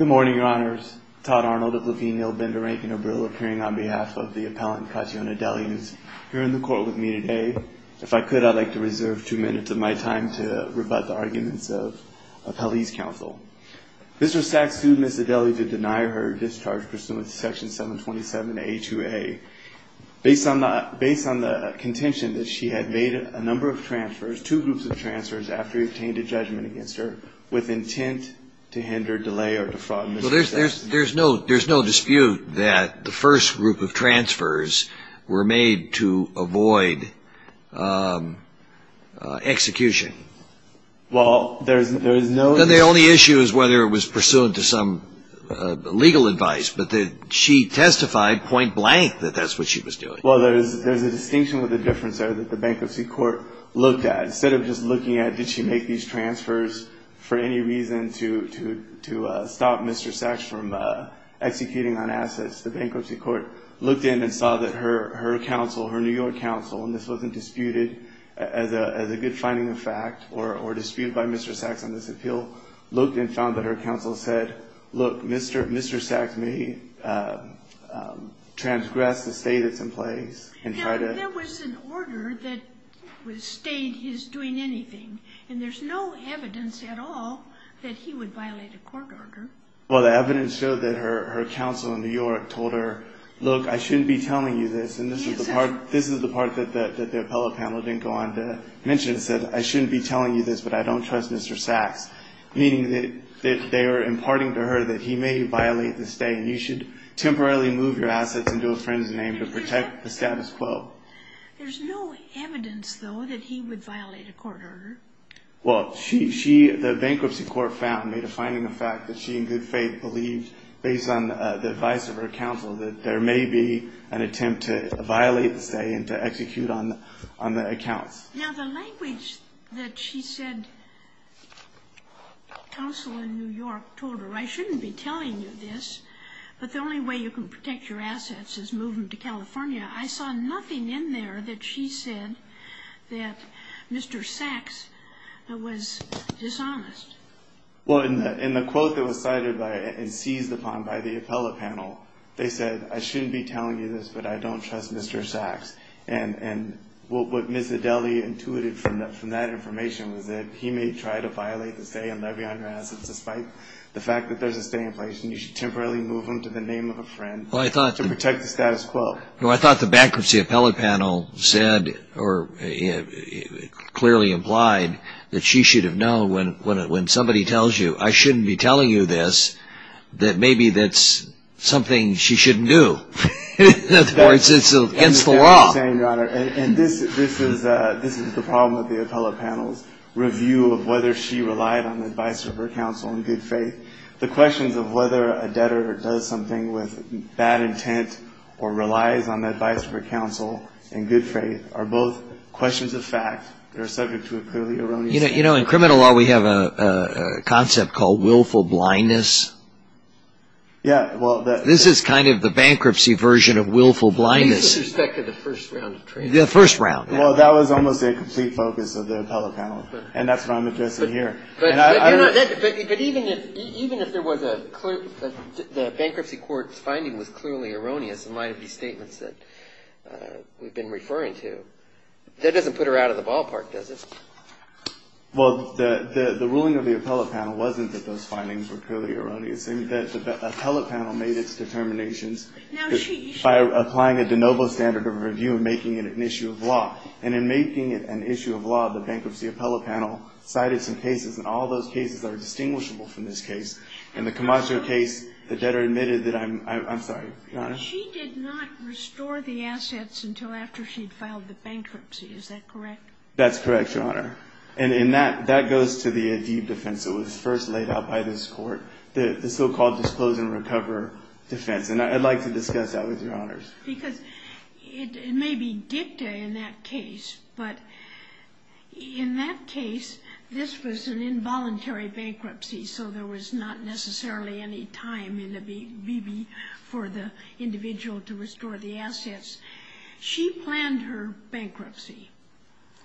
Mr. Sachs sued Ms. Adeli to deny her discharge pursuant to Section 727A2A, based on the contention that she had made a number of transfers, two groups of transfers, after he obtained a judgment against her, with intent to hinder delay in her release from prison. There's no dispute that the first group of transfers were made to avoid execution. The only issue is whether it was pursuant to some legal advice, but she testified point-blank that that's what she was doing. Well, there's a distinction with the difference there that the bankruptcy court looked at. Instead of just looking at did she make these transfers for any reason to stop Mr. Sachs from executing on assets, the bankruptcy court looked in and saw that her counsel, her New York counsel, and this wasn't disputed as a good finding of fact or disputed by Mr. Sachs on this appeal, looked and found that her counsel said, Look, Mr. Sachs may transgress the state that's in place and try to... Now, there was an order that was stating he's doing anything, and there's no evidence at all that he would violate a court order. Well, the evidence showed that her counsel in New York told her, Look, I shouldn't be telling you this, and this is the part that the appellate panel didn't go on to mention. It said, I shouldn't be telling you this, but I don't trust Mr. Sachs, meaning that they are imparting to her that he may violate the state, and you should temporarily move your assets into a friend's name to protect the status quo. There's no evidence, though, that he would violate a court order. Well, she, the bankruptcy court found, made a finding of fact that she, in good faith, believed, based on the advice of her counsel, that there may be an attempt to violate the state and to execute on the accounts. Now, the language that she said, counsel in New York told her, I shouldn't be telling you this, but the only way you can protect your assets is moving to California, I saw nothing in there that she said that Mr. Sachs was dishonest. Well, in the quote that was cited and seized upon by the appellate panel, they said, I shouldn't be telling you this, but I don't trust Mr. Sachs. And what Ms. Adele intuited from that information was that he may try to violate the state and levy on her assets, despite the fact that there's a state in place, and you should temporarily move them to the name of a friend to protect the status quo. Well, I thought the bankruptcy appellate panel said, or clearly implied, that she should have known when somebody tells you, I shouldn't be telling you this, that maybe that's something she shouldn't do, or it's against the law. That's what I'm saying, Your Honor, and this is the problem with the appellate panel's review of whether she relied on the advice of her counsel in good faith. The questions of whether a debtor does something with bad intent or relies on the advice of her counsel in good faith are both questions of fact. They're subject to a clearly erroneous fact. You know, in criminal law, we have a concept called willful blindness. Yeah. This is kind of the bankruptcy version of willful blindness. With respect to the first round of training. The first round. Well, that was almost a complete focus of the appellate panel, and that's what I'm addressing here. But even if there was a clear – the bankruptcy court's finding was clearly erroneous in light of these statements that we've been referring to, that doesn't put her out of the ballpark, does it? Well, the ruling of the appellate panel wasn't that those findings were clearly erroneous. The appellate panel made its determinations by applying a de novo standard of review and making it an issue of law. And in making it an issue of law, the bankruptcy appellate panel cited some cases, and all those cases are distinguishable from this case. In the Camacho case, the debtor admitted that I'm – I'm sorry, Your Honor? She did not restore the assets until after she'd filed the bankruptcy. Is that correct? That's correct, Your Honor. And in that – that goes to the ADIB defense. It was first laid out by this court, the so-called Disclose and Recover defense. And I'd like to discuss that with Your Honors. Because it may be dicta in that case, but in that case, this was an involuntary bankruptcy, so there was not necessarily any time in the BB for the individual to restore the assets. She planned her bankruptcy.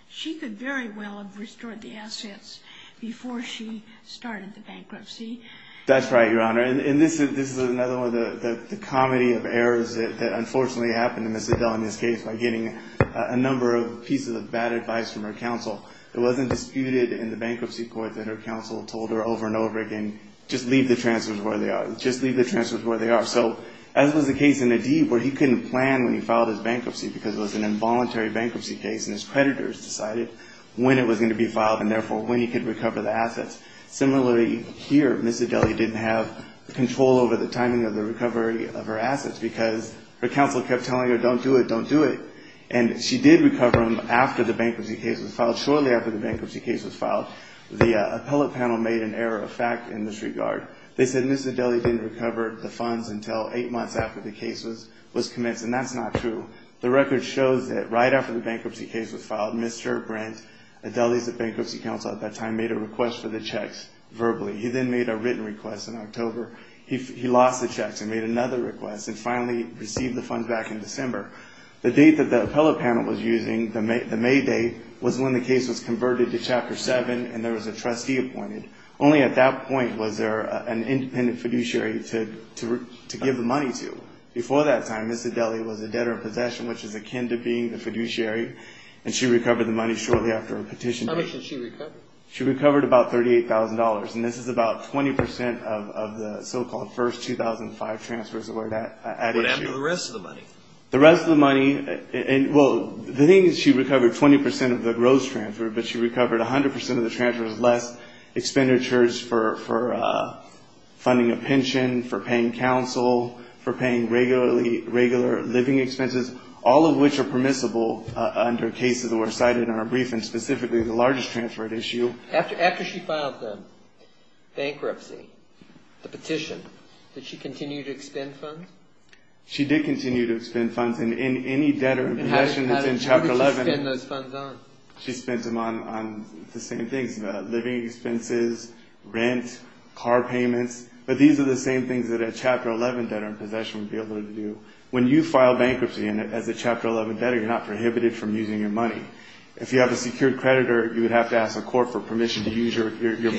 She could very well have restored the assets before she started the bankruptcy. That's right, Your Honor. And this is another one of the comedy of errors that unfortunately happened in Ms. Adele in this case by getting a number of pieces of bad advice from her counsel. It wasn't disputed in the bankruptcy court that her counsel told her over and over again, just leave the transfers where they are. Just leave the transfers where they are. So as was the case in ADIB where he couldn't plan when he filed his bankruptcy because it was an involuntary bankruptcy case and his creditors decided when it was going to be filed and, therefore, when he could recover the assets. Similarly here, Ms. Adele didn't have control over the timing of the recovery of her assets because her counsel kept telling her, don't do it, don't do it. And she did recover them after the bankruptcy case was filed. Shortly after the bankruptcy case was filed, the appellate panel made an error of fact in this regard. They said Ms. Adele didn't recover the funds until eight months after the case was commenced, and that's not true. The record shows that right after the bankruptcy case was filed, Mr. Brent, Adele's bankruptcy counsel at that time, made a request for the checks verbally. He then made a written request in October. He lost the checks and made another request and finally received the funds back in December. The date that the appellate panel was using, the May date, was when the case was converted to Chapter 7 and there was a trustee appointed. Only at that point was there an independent fiduciary to give the money to. Before that time, Ms. Adele was a debtor in possession, which is akin to being the fiduciary, and she recovered the money shortly after a petition. How much did she recover? She recovered about $38,000, and this is about 20 percent of the so-called first 2005 transfers that were added to her. What happened to the rest of the money? The rest of the money, well, the thing is she recovered 20 percent of the gross transfer, but she recovered 100 percent of the transfers less, expenditures for funding a pension, for paying counsel, for paying regular living expenses, all of which are permissible under cases that were cited in our brief, and specifically the largest transfer at issue. After she filed the bankruptcy, the petition, did she continue to expend funds? She did continue to expend funds, and in any debtor in possession that's in Chapter 11. How did she spend those funds on? She spent them on the same things, living expenses, rent, car payments, but these are the same things that a Chapter 11 debtor in possession would be able to do. When you file bankruptcy as a Chapter 11 debtor, you're not prohibited from using your money. If you have a secured creditor, you would have to ask the court for permission to use your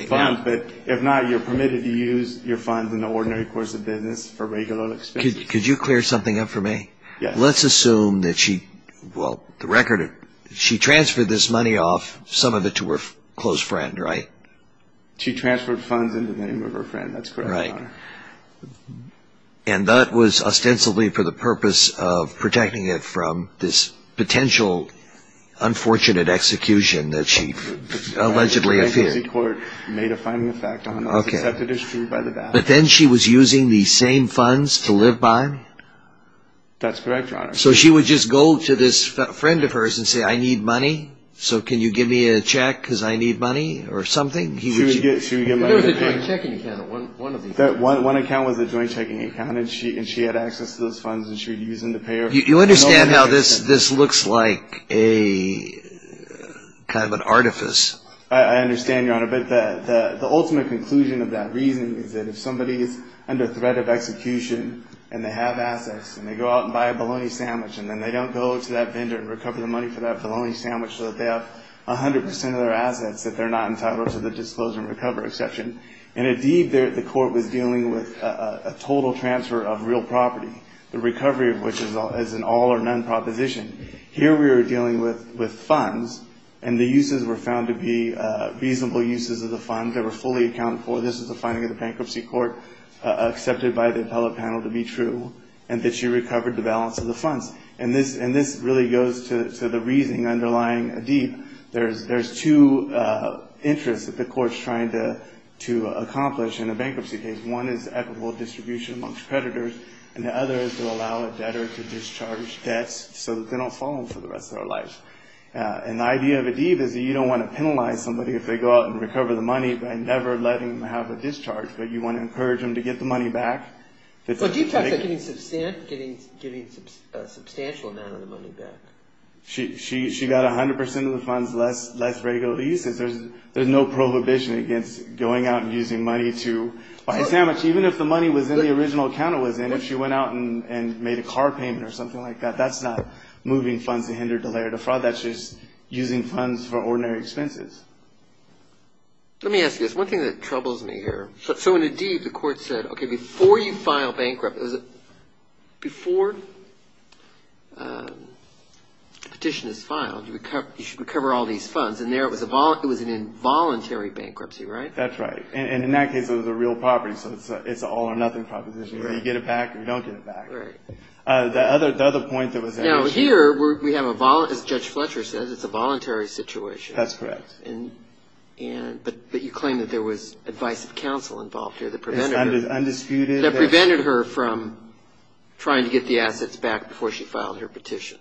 funds, but if not, you're permitted to use your funds in the ordinary course of business for regular expenses. Could you clear something up for me? Yes. Let's assume that she, well, the record, she transferred this money off, some of it to her close friend, right? She transferred funds in the name of her friend, that's correct, Your Honor. Right. And that was ostensibly for the purpose of protecting it from this potential unfortunate execution that she allegedly feared. That's correct, Your Honor. So she would just go to this friend of hers and say, I need money, so can you give me a check because I need money, or something? She would get money. There was a joint checking account on one of them. One account was a joint checking account, and she had access to those funds, and she would use them to pay her. You understand how this looks like a kind of an artifice? I understand your point, Your Honor. But the ultimate conclusion of that reasoning is that if somebody is under threat of execution and they have assets and they go out and buy a bologna sandwich, and then they don't go to that vendor and recover the money for that bologna sandwich so that they have 100 percent of their assets, that they're not entitled to the disclosure and recovery exception. And indeed, the court was dealing with a total transfer of real property, the recovery of which is an all-or-none proposition. Here we were dealing with funds, and the uses were found to be reasonable uses of the funds. They were fully accountable. This is the finding of the bankruptcy court, accepted by the appellate panel to be true, and that she recovered the balance of the funds. And this really goes to the reasoning underlying Adeeb. There's two interests that the court's trying to accomplish in a bankruptcy case. One is equitable distribution amongst creditors, and the other is to allow a debtor to discharge debts so that they don't fall for the rest of their life. And the idea of Adeeb is that you don't want to penalize somebody if they go out and recover the money by never letting them have a discharge, but you want to encourage them to get the money back. Well, Adeeb talks about getting a substantial amount of the money back. She got 100 percent of the funds, less regular uses. There's no prohibition against going out and using money to buy a sandwich. Even if the money was in the original account it was in, if she went out and made a car payment or something like that, that's not moving funds to hinder, delay, or defraud. That's just using funds for ordinary expenses. Let me ask you this. One thing that troubles me here, so in Adeeb, the court said, okay, before you file bankruptcy, before the petition is filed, you should recover all these funds. And there it was an involuntary bankruptcy, right? That's right. And in that case it was a real property, so it's an all-or-nothing proposition. You get it back or you don't get it back. Right. The other point that was raised. Now, here we have a, as Judge Fletcher says, it's a voluntary situation. That's correct. But you claim that there was advice of counsel involved here that prevented her. It's undisputed. That prevented her from trying to get the assets back before she filed her petition.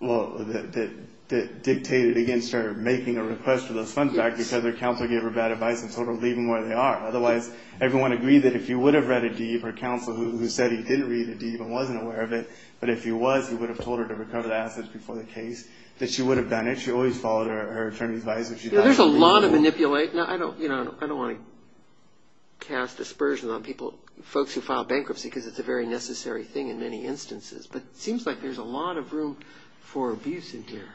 Well, that dictated against her making a request for those funds back because her counsel gave her bad advice and told her to leave them where they are. Otherwise, everyone agreed that if you would have read Adeeb or counsel who said he didn't read Adeeb and wasn't aware of it, but if he was, he would have told her to recover the assets before the case, that she would have done it. She always followed her attorney's advice. There's a lot of manipulate. Now, I don't want to cast dispersion on people, folks who file bankruptcy, because it's a very necessary thing in many instances. But it seems like there's a lot of room for abuse in here.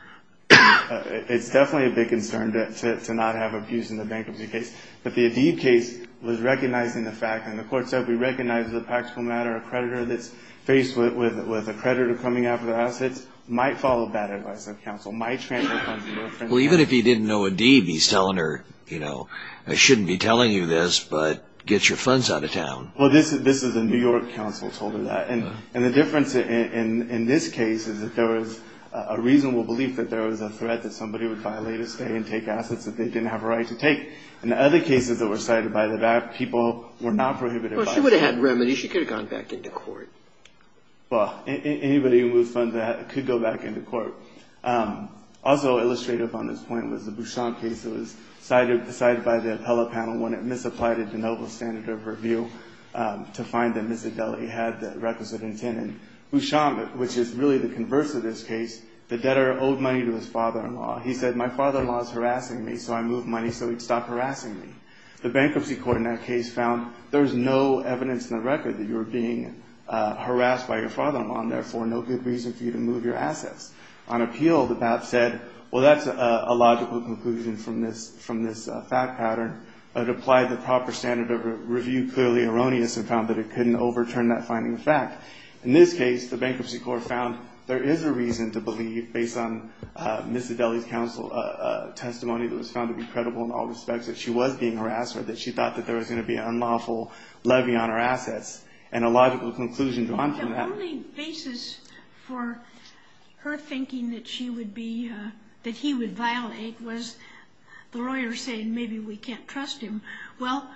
It's definitely a big concern to not have abuse in the bankruptcy case. But the Adeeb case was recognizing the fact, and the court said, we recognize as a practical matter a creditor that's faced with a creditor coming out for the assets might follow bad advice of counsel, might transfer funds to a friend. Well, even if he didn't know Adeeb, he's telling her, you know, I shouldn't be telling you this, but get your funds out of town. Well, this is a New York counsel who told her that. And the difference in this case is that there was a reasonable belief that there was a threat that somebody would violate a stay and take assets that they didn't have a right to take. In the other cases that were cited by the VAC, people were not prohibited by this. Well, she would have had remedies. She could have gone back into court. Well, anybody who would fund that could go back into court. Also illustrative on this point was the Bouchon case. It was cited by the appellate panel when it misapplied a de novo standard of review to find that Miss Adeli had the requisite intent. And Bouchon, which is really the converse of this case, the debtor owed money to his father-in-law. He said, my father-in-law is harassing me, so I moved money so he'd stop harassing me. The bankruptcy court in that case found there was no evidence in the record that you were being harassed by your father-in-law, and therefore no good reason for you to move your assets. On appeal, the BAP said, well, that's a logical conclusion from this fact pattern. It applied the proper standard of review, clearly erroneous, and found that it couldn't overturn that finding of fact. In this case, the bankruptcy court found there is a reason to believe, based on Miss Adeli's counsel testimony that was found to be credible in all respects, that she was being harassed, or that she thought that there was going to be an unlawful levy on her assets, and a logical conclusion drawn from that. The only basis for her thinking that she would be, that he would violate, was the lawyer saying maybe we can't trust him. Well,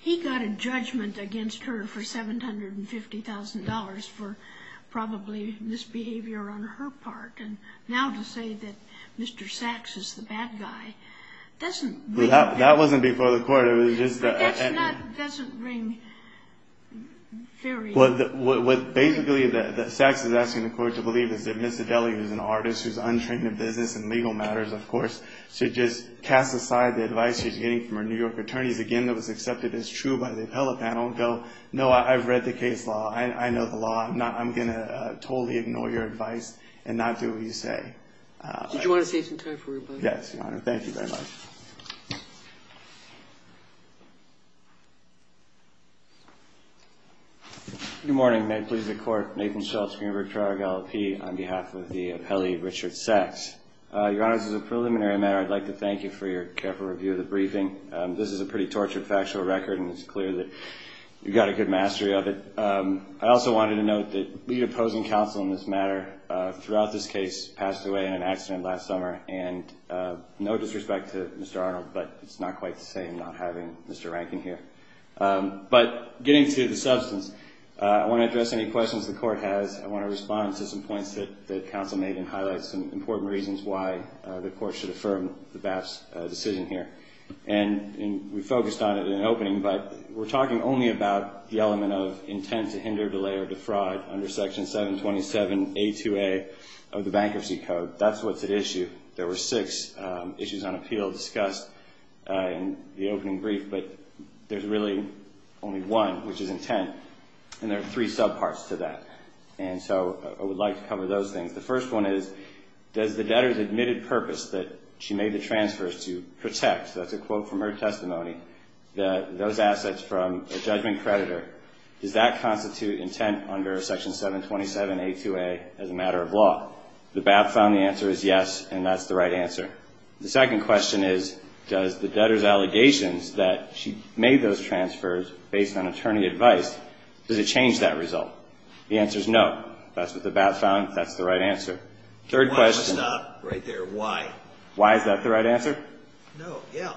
he got a judgment against her for $750,000 for probably misbehavior on her part, and now to say that Mr. Sachs is the bad guy doesn't bring... That wasn't before the court, it was just... But that doesn't bring... What basically Sachs is asking the court to believe is that Miss Adeli, who's an artist, who's untrained in business and legal matters, of course, should just cast aside the advice she's getting from her New York attorneys, again, that was accepted as true by the appellate panel, and go, no, I've read the case law. I know the law. I'm going to totally ignore your advice and not do what you say. Did you want to save some time for rebuttal? Yes, Your Honor. Thank you very much. Good morning. Good morning. May it please the Court. Nathan Schultz, Greenberg-Toronto LLP on behalf of the appellee Richard Sachs. Your Honor, this is a preliminary matter. I'd like to thank you for your careful review of the briefing. This is a pretty tortured factual record, and it's clear that you've got a good mastery of it. I also wanted to note that the opposing counsel in this matter throughout this case passed away in an accident last summer, and no disrespect to Mr. Arnold, but it's not quite the same not having Mr. Rankin here. But getting to the substance, I want to address any questions the Court has. I want to respond to some points that the counsel made and highlight some important reasons why the Court should affirm the BAP's decision here. And we focused on it in the opening, but we're talking only about the element of intent to hinder, delay, or defraud under Section 727A2A of the Bankruptcy Code. That's what's at issue. There were six issues on appeal discussed in the opening brief, but there's really only one, which is intent, and there are three subparts to that. And so I would like to cover those things. The first one is, does the debtor's admitted purpose that she made the transfers to protect, that's a quote from her testimony, those assets from a judgment creditor, does that constitute intent under Section 727A2A as a matter of law? The BAP found the answer is yes, and that's the right answer. The second question is, does the debtor's allegations that she made those transfers based on attorney advice, does it change that result? The answer is no. That's what the BAP found. That's the right answer. Third question. Why is that the right answer? No, yeah.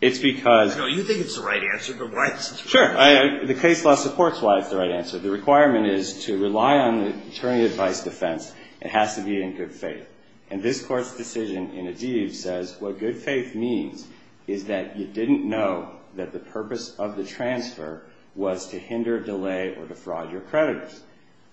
It's because... I know you think it's the right answer, but why is it the right answer? Sure. The case law supports why it's the right answer. The requirement is to rely on the attorney advice defense. It has to be in good faith. And this Court's decision in Adiv says, what good faith means is that you didn't know that the purpose of the transfer was to hinder, delay, or defraud your creditors.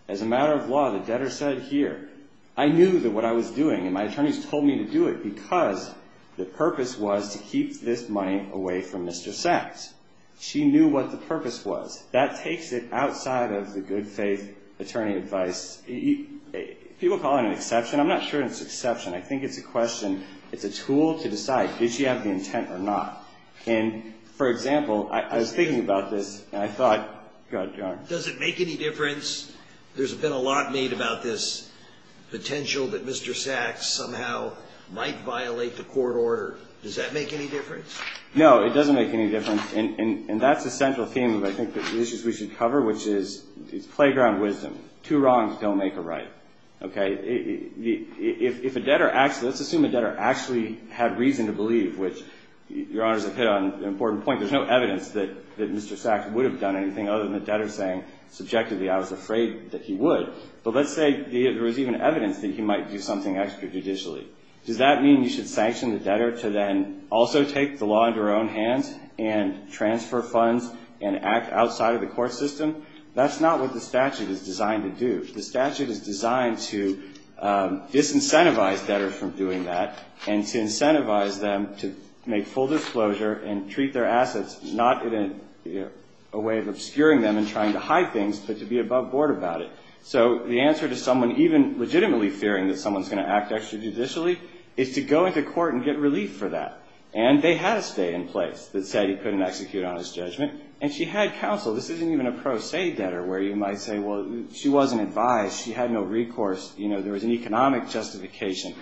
As a matter of law, the debtor said here, I knew that what I was doing and my attorneys told me to do it because the purpose was to keep this money away from Mr. Sacks. She knew what the purpose was. That takes it outside of the good faith attorney advice. People call it an exception. I'm not sure it's an exception. I think it's a question. It's a tool to decide. Did she have the intent or not? And, for example, I was thinking about this, and I thought, God darn. Does it make any difference? There's been a lot made about this potential that Mr. Sacks somehow might violate the court order. Does that make any difference? No, it doesn't make any difference. And that's a central theme of, I think, the issues we should cover, which is playground wisdom. Two wrongs don't make a right. Okay? If a debtor actually, let's assume a debtor actually had reason to believe, which Your Honors have hit on an important point. There's no evidence that Mr. Sacks would have done anything other than the debtor saying, subjectively, I was afraid that he would. But let's say there was even evidence that he might do something extra judicially. Does that mean you should sanction the debtor to then also take the law into her own hands and transfer funds and act outside of the court system? That's not what the statute is designed to do. The statute is designed to disincentivize debtors from doing that and to incentivize them to make full disclosure and treat their assets not in a way of obscuring them and trying to hide things, but to be above board about it. So the answer to someone even legitimately fearing that someone's going to act extra judicially is to go into court and get relief for that. And they had a stay in place that said he couldn't execute on his judgment, and she had counsel. This isn't even a pro se debtor where you might say, well, she wasn't advised. She had no recourse. There was an economic justification.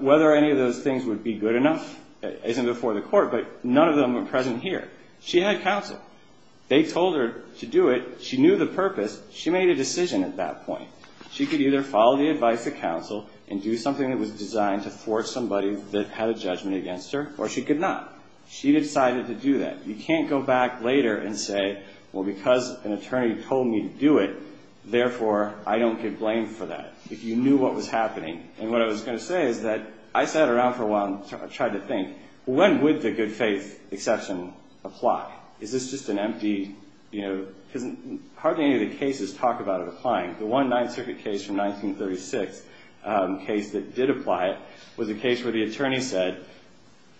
Whether any of those things would be good enough isn't before the court, but none of them are present here. She had counsel. They told her to do it. She knew the purpose. She made a decision at that point. She could either follow the advice of counsel and do something that was designed to force somebody that had a judgment against her, or she could not. She decided to do that. You can't go back later and say, well, because an attorney told me to do it, therefore I don't give blame for that, if you knew what was happening. And what I was going to say is that I sat around for a while and tried to think, when would the good faith exception apply? Is this just an empty, you know, because hardly any of the cases talk about it applying. The one Ninth Circuit case from 1936 case that did apply it was a case where the attorney said,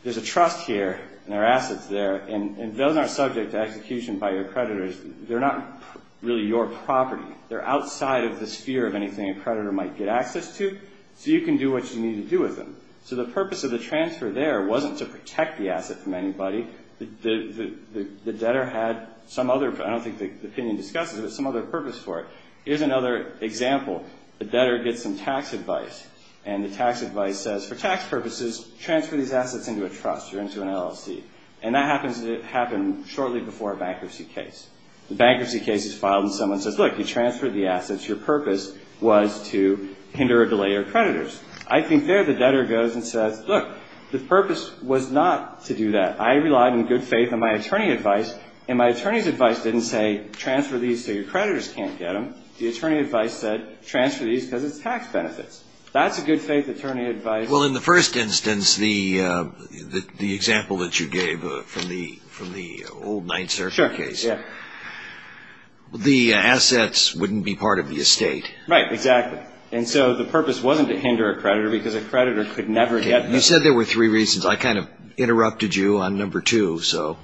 there's a trust here and there are assets there, and those are subject to execution by your creditors. They're not really your property. They're outside of the sphere of anything a creditor might get access to, so you can do what you need to do with them. So the purpose of the transfer there wasn't to protect the asset from anybody. The debtor had some other, I don't think the opinion discusses it, but some other purpose for it. Here's another example. The debtor gets some tax advice, and the tax advice says, for tax purposes, transfer these assets into a trust or into an LLC. And that happens shortly before a bankruptcy case. The bankruptcy case is filed and someone says, look, you transferred the assets. Your purpose was to hinder or delay your creditors. I think there the debtor goes and says, look, the purpose was not to do that. I relied on good faith on my attorney advice, and my attorney's advice didn't say transfer these so your creditors can't get them. The attorney advice said transfer these because it's tax benefits. That's a good faith attorney advice. Well, in the first instance, the example that you gave from the old 9th Circuit case, the assets wouldn't be part of the estate. Right, exactly. And so the purpose wasn't to hinder a creditor because a creditor could never get them. You said there were three reasons. I kind of interrupted you on number two, so.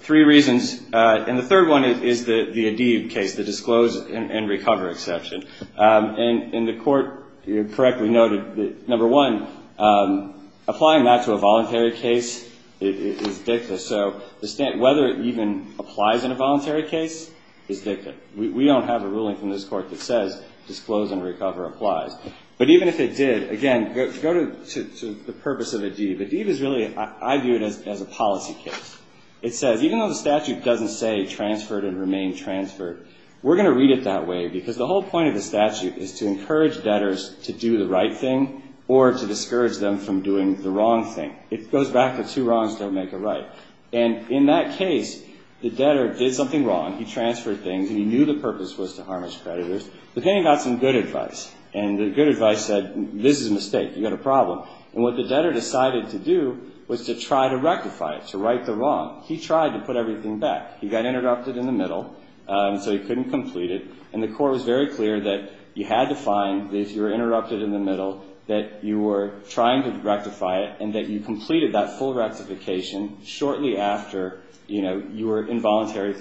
Three reasons. And the third one is the Adib case, the disclose and recover exception. And the court correctly noted that, number one, applying that to a voluntary case is dicta. So whether it even applies in a voluntary case is dicta. We don't have a ruling from this court that says disclose and recover applies. But even if it did, again, go to the purpose of Adib. Adib is really, I view it as a policy case. It says even though the statute doesn't say transferred and remain transferred, we're going to read it that way because the whole point of the statute is to encourage debtors to do the right thing or to discourage them from doing the wrong thing. It goes back to two wrongs don't make a right. And in that case, the debtor did something wrong. He transferred things. He knew the purpose was to harm his creditors. But then he got some good advice. And the good advice said this is a mistake. You've got a problem. And what the debtor decided to do was to try to rectify it, to right the wrong. He tried to put everything back. He got interrupted in the middle, so he couldn't complete it. And the court was very clear that you had to find that if you were interrupted in the middle, that you were trying to rectify it and that you completed that full rectification shortly after, you know, you were involuntarily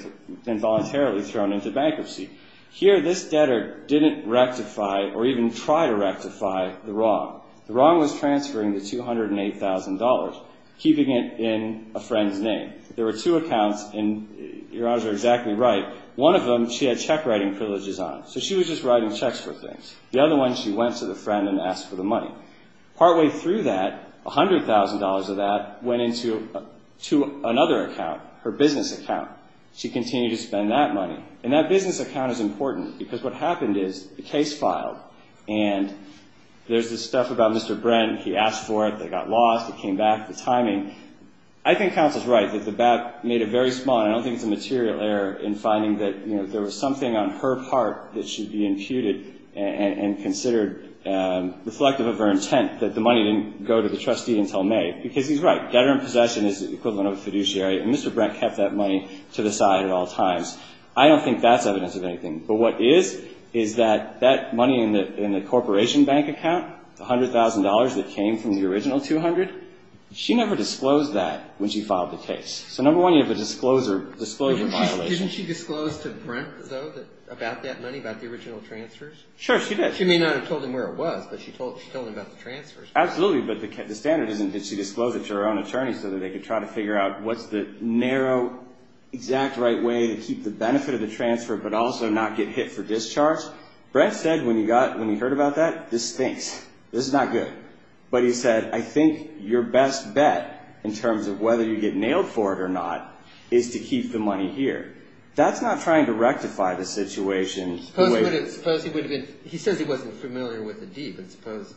thrown into bankruptcy. Here this debtor didn't rectify or even try to rectify the wrong. The wrong was transferring the $208,000, keeping it in a friend's name. There were two accounts, and your honors are exactly right, one of them she had check writing privileges on. So she was just writing checks for things. The other one she went to the friend and asked for the money. Partway through that, $100,000 of that went into another account, her business account. She continued to spend that money. And that business account is important because what happened is the case filed and there's this stuff about Mr. Brent. He asked for it. It got lost. It came back. The timing. I think counsel's right that the BAP made a very small, and I don't think it's a material error in finding that, you know, there was something on her part that should be imputed and considered reflective of her intent, that the money didn't go to the trustee until May because he's right. Debtor in possession is the equivalent of a fiduciary, and Mr. Brent kept that money to the side at all times. I don't think that's evidence of anything. But what is is that that money in the corporation bank account, the $100,000 that came from the original $200,000, she never disclosed that when she filed the case. So, number one, you have a disclosure violation. Didn't she disclose to Brent, though, about that money, about the original transfers? Sure, she did. She may not have told him where it was, but she told him about the transfers. Absolutely, but the standard isn't did she disclose it to her own attorney so that they could try to figure out what's the narrow, exact right way to keep the benefit of the transfer but also not get hit for discharge? Brent said when he heard about that, this stinks. This is not good. But he said, I think your best bet in terms of whether you get nailed for it or not is to keep the money here. That's not trying to rectify the situation. Suppose he would have been, he says he wasn't familiar with the deed, but suppose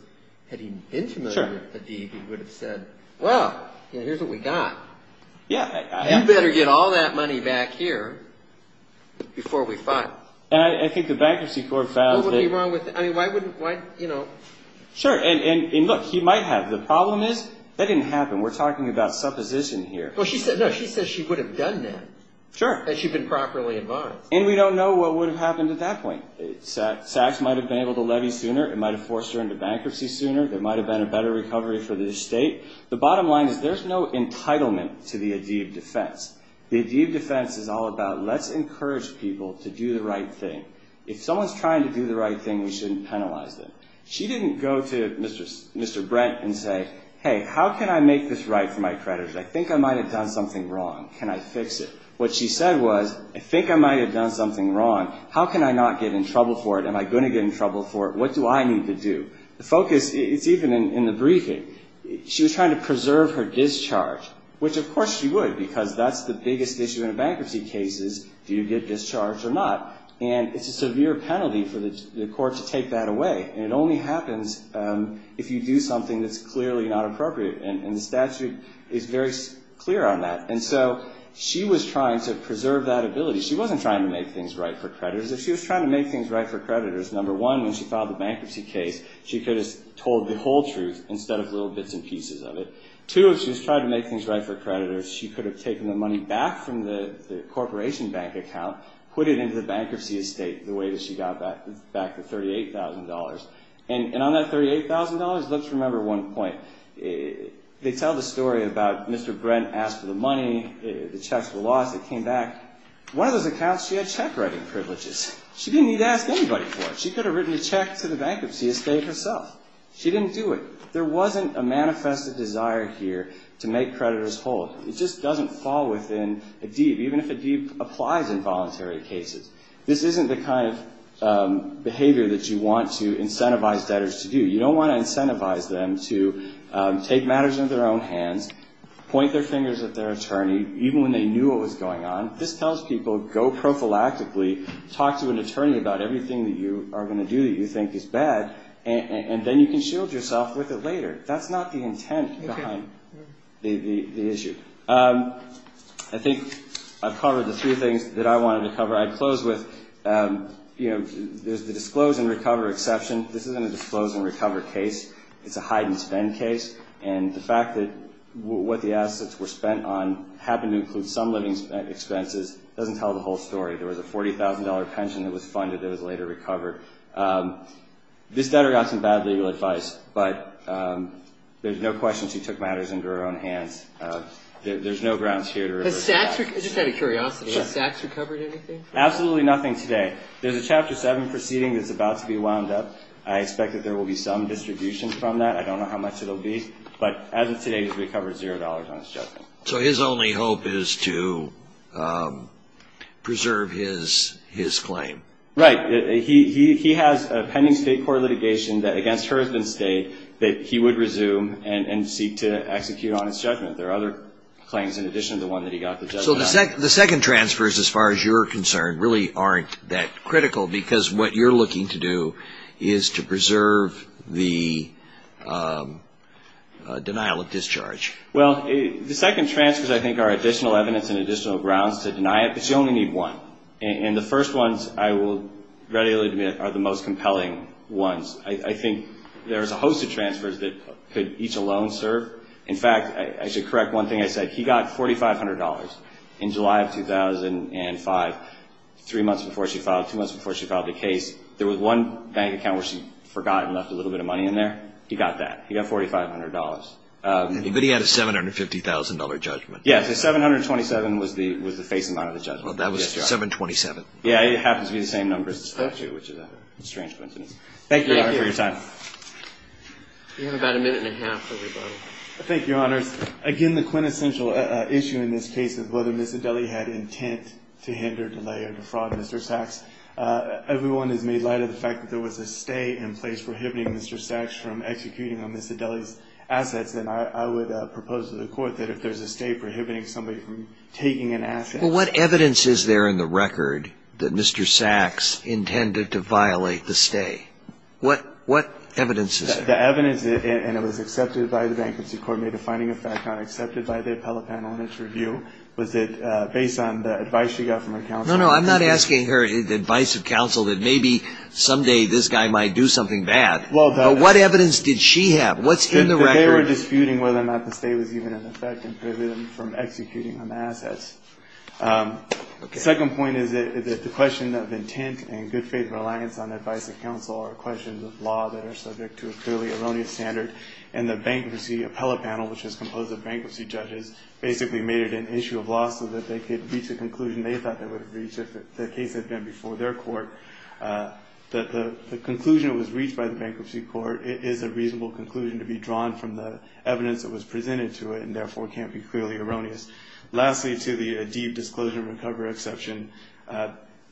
had he been familiar with the deed, he would have said, well, here's what we got. You better get all that money back here before we file. And I think the Bankruptcy Court found that... What would be wrong with that? I mean, why wouldn't, you know... Sure, and look, he might have. The problem is that didn't happen. We're talking about supposition here. No, she said she would have done that. Sure. Had she been properly advised. And we don't know what would have happened at that point. Sachs might have been able to levy sooner. It might have forced her into bankruptcy sooner. There might have been a better recovery for the estate. The bottom line is there's no entitlement to the Adib defense. The Adib defense is all about let's encourage people to do the right thing. If someone's trying to do the right thing, we shouldn't penalize them. She didn't go to Mr. Brent and say, hey, how can I make this right for my creditors? I think I might have done something wrong. Can I fix it? What she said was, I think I might have done something wrong. How can I not get in trouble for it? Am I going to get in trouble for it? What do I need to do? The focus is even in the briefing. She was trying to preserve her discharge, which of course she would because that's the biggest issue in a bankruptcy case is do you get discharged or not. And it's a severe penalty for the court to take that away. And it only happens if you do something that's clearly not appropriate. And the statute is very clear on that. And so she was trying to preserve that ability. She wasn't trying to make things right for creditors. If she was trying to make things right for creditors, number one, when she filed the bankruptcy case, she could have told the whole truth instead of little bits and pieces of it. Two, if she was trying to make things right for creditors, she could have taken the money back from the corporation bank account, put it into the bankruptcy estate the way that she got back the $38,000. And on that $38,000, let's remember one point. They tell the story about Mr. Brent asked for the money, the checks were lost, it came back. One of those accounts, she had check writing privileges. She didn't need to ask anybody for it. She could have written a check to the bankruptcy estate herself. She didn't do it. There wasn't a manifest desire here to make creditors whole. It just doesn't fall within a deed, even if a deed applies in voluntary cases. This isn't the kind of behavior that you want to incentivize debtors to do. You don't want to incentivize them to take matters into their own hands, point their fingers at their attorney, even when they knew what was going on. This tells people go prophylactically, talk to an attorney about everything that you are going to do that you think is bad, and then you can shield yourself with it later. That's not the intent behind the issue. I think I've covered the three things that I wanted to cover. I'd close with there's the disclose and recover exception. This isn't a disclose and recover case. It's a hide and spend case, and the fact that what the assets were spent on happened to include some living expenses doesn't tell the whole story. There was a $40,000 pension that was funded that was later recovered. This debtor got some bad legal advice, but there's no question she took matters into her own hands. There's no grounds here to remember. I just had a curiosity. Has Sachs recovered anything? Absolutely nothing today. There's a Chapter 7 proceeding that's about to be wound up. I expect that there will be some distribution from that. I don't know how much it will be, but as of today, he's recovered $0 on his judgment. So his only hope is to preserve his claim. Right. He has a pending state court litigation that against her has been stayed that he would resume and seek to execute on his judgment. There are other claims in addition to the one that he got the judgment on. So the second transfers, as far as you're concerned, really aren't that critical because what you're looking to do is to preserve the denial of discharge. Well, the second transfers, I think, are additional evidence and additional grounds to deny it, but you only need one. And the first ones, I will readily admit, are the most compelling ones. I think there's a host of transfers that could each alone serve. In fact, I should correct one thing I said. He got $4,500 in July of 2005, three months before she filed, two months before she filed the case. There was one bank account where she forgot and left a little bit of money in there. He got that. He got $4,500. But he had a $750,000 judgment. Yes. The $727,000 was the face amount of the judgment. That was $727,000. Yes. It happens to be the same number as the statute, which is a strange coincidence. Thank you, Your Honor, for your time. Thank you. You have about a minute and a half, everybody. Thank you, Your Honors. Again, the quintessential issue in this case is whether Miss Adeli had intent to hinder, delay, or defraud Mr. Sachs. Everyone has made light of the fact that there was a stay in place prohibiting Mr. Sachs from executing on Miss Adeli's assets. And I would propose to the court that if there's a stay prohibiting somebody from taking an asset. Well, what evidence is there in the record that Mr. Sachs intended to violate the stay? What evidence is there? The evidence, and it was accepted by the Vanquish Court, made a finding of fact not accepted by the appellate panel in its review, was that based on the advice she got from her counsel. No, no, I'm not asking her the advice of counsel that maybe someday this guy might do something bad. But what evidence did she have? What's in the record? They were disputing whether or not the stay was even in effect and prohibited him from executing on the assets. The second point is that the question of intent and good faith reliance on advice of counsel are questions of law that are subject to a clearly erroneous standard. And the bankruptcy appellate panel, which is composed of bankruptcy judges, basically made it an issue of law so that they could reach a conclusion they thought they would have reached if the case had been before their court. The conclusion that was reached by the Bankruptcy Court is a reasonable conclusion to be drawn from the evidence that was presented to it and, therefore, can't be clearly erroneous. Lastly, to the deep disclosure and recovery exception,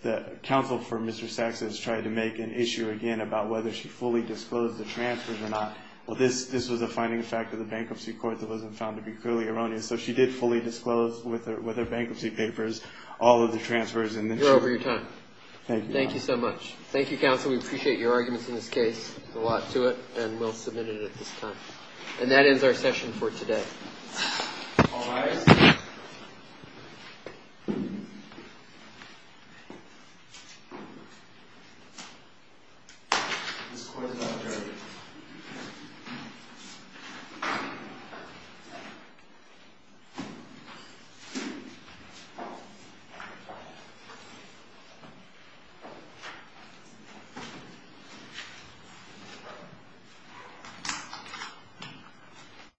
the counsel for Mr. Sachs has tried to make an issue again about whether she fully disclosed the transfers or not. Well, this was a finding of fact of the Bankruptcy Court that wasn't found to be clearly erroneous. So she did fully disclose with her bankruptcy papers all of the transfers. You're over your time. Thank you. Thank you so much. Thank you, counsel. We appreciate your arguments in this case. There's a lot to it, and we'll submit it at this time. And that ends our session for today. All rise. Thank you.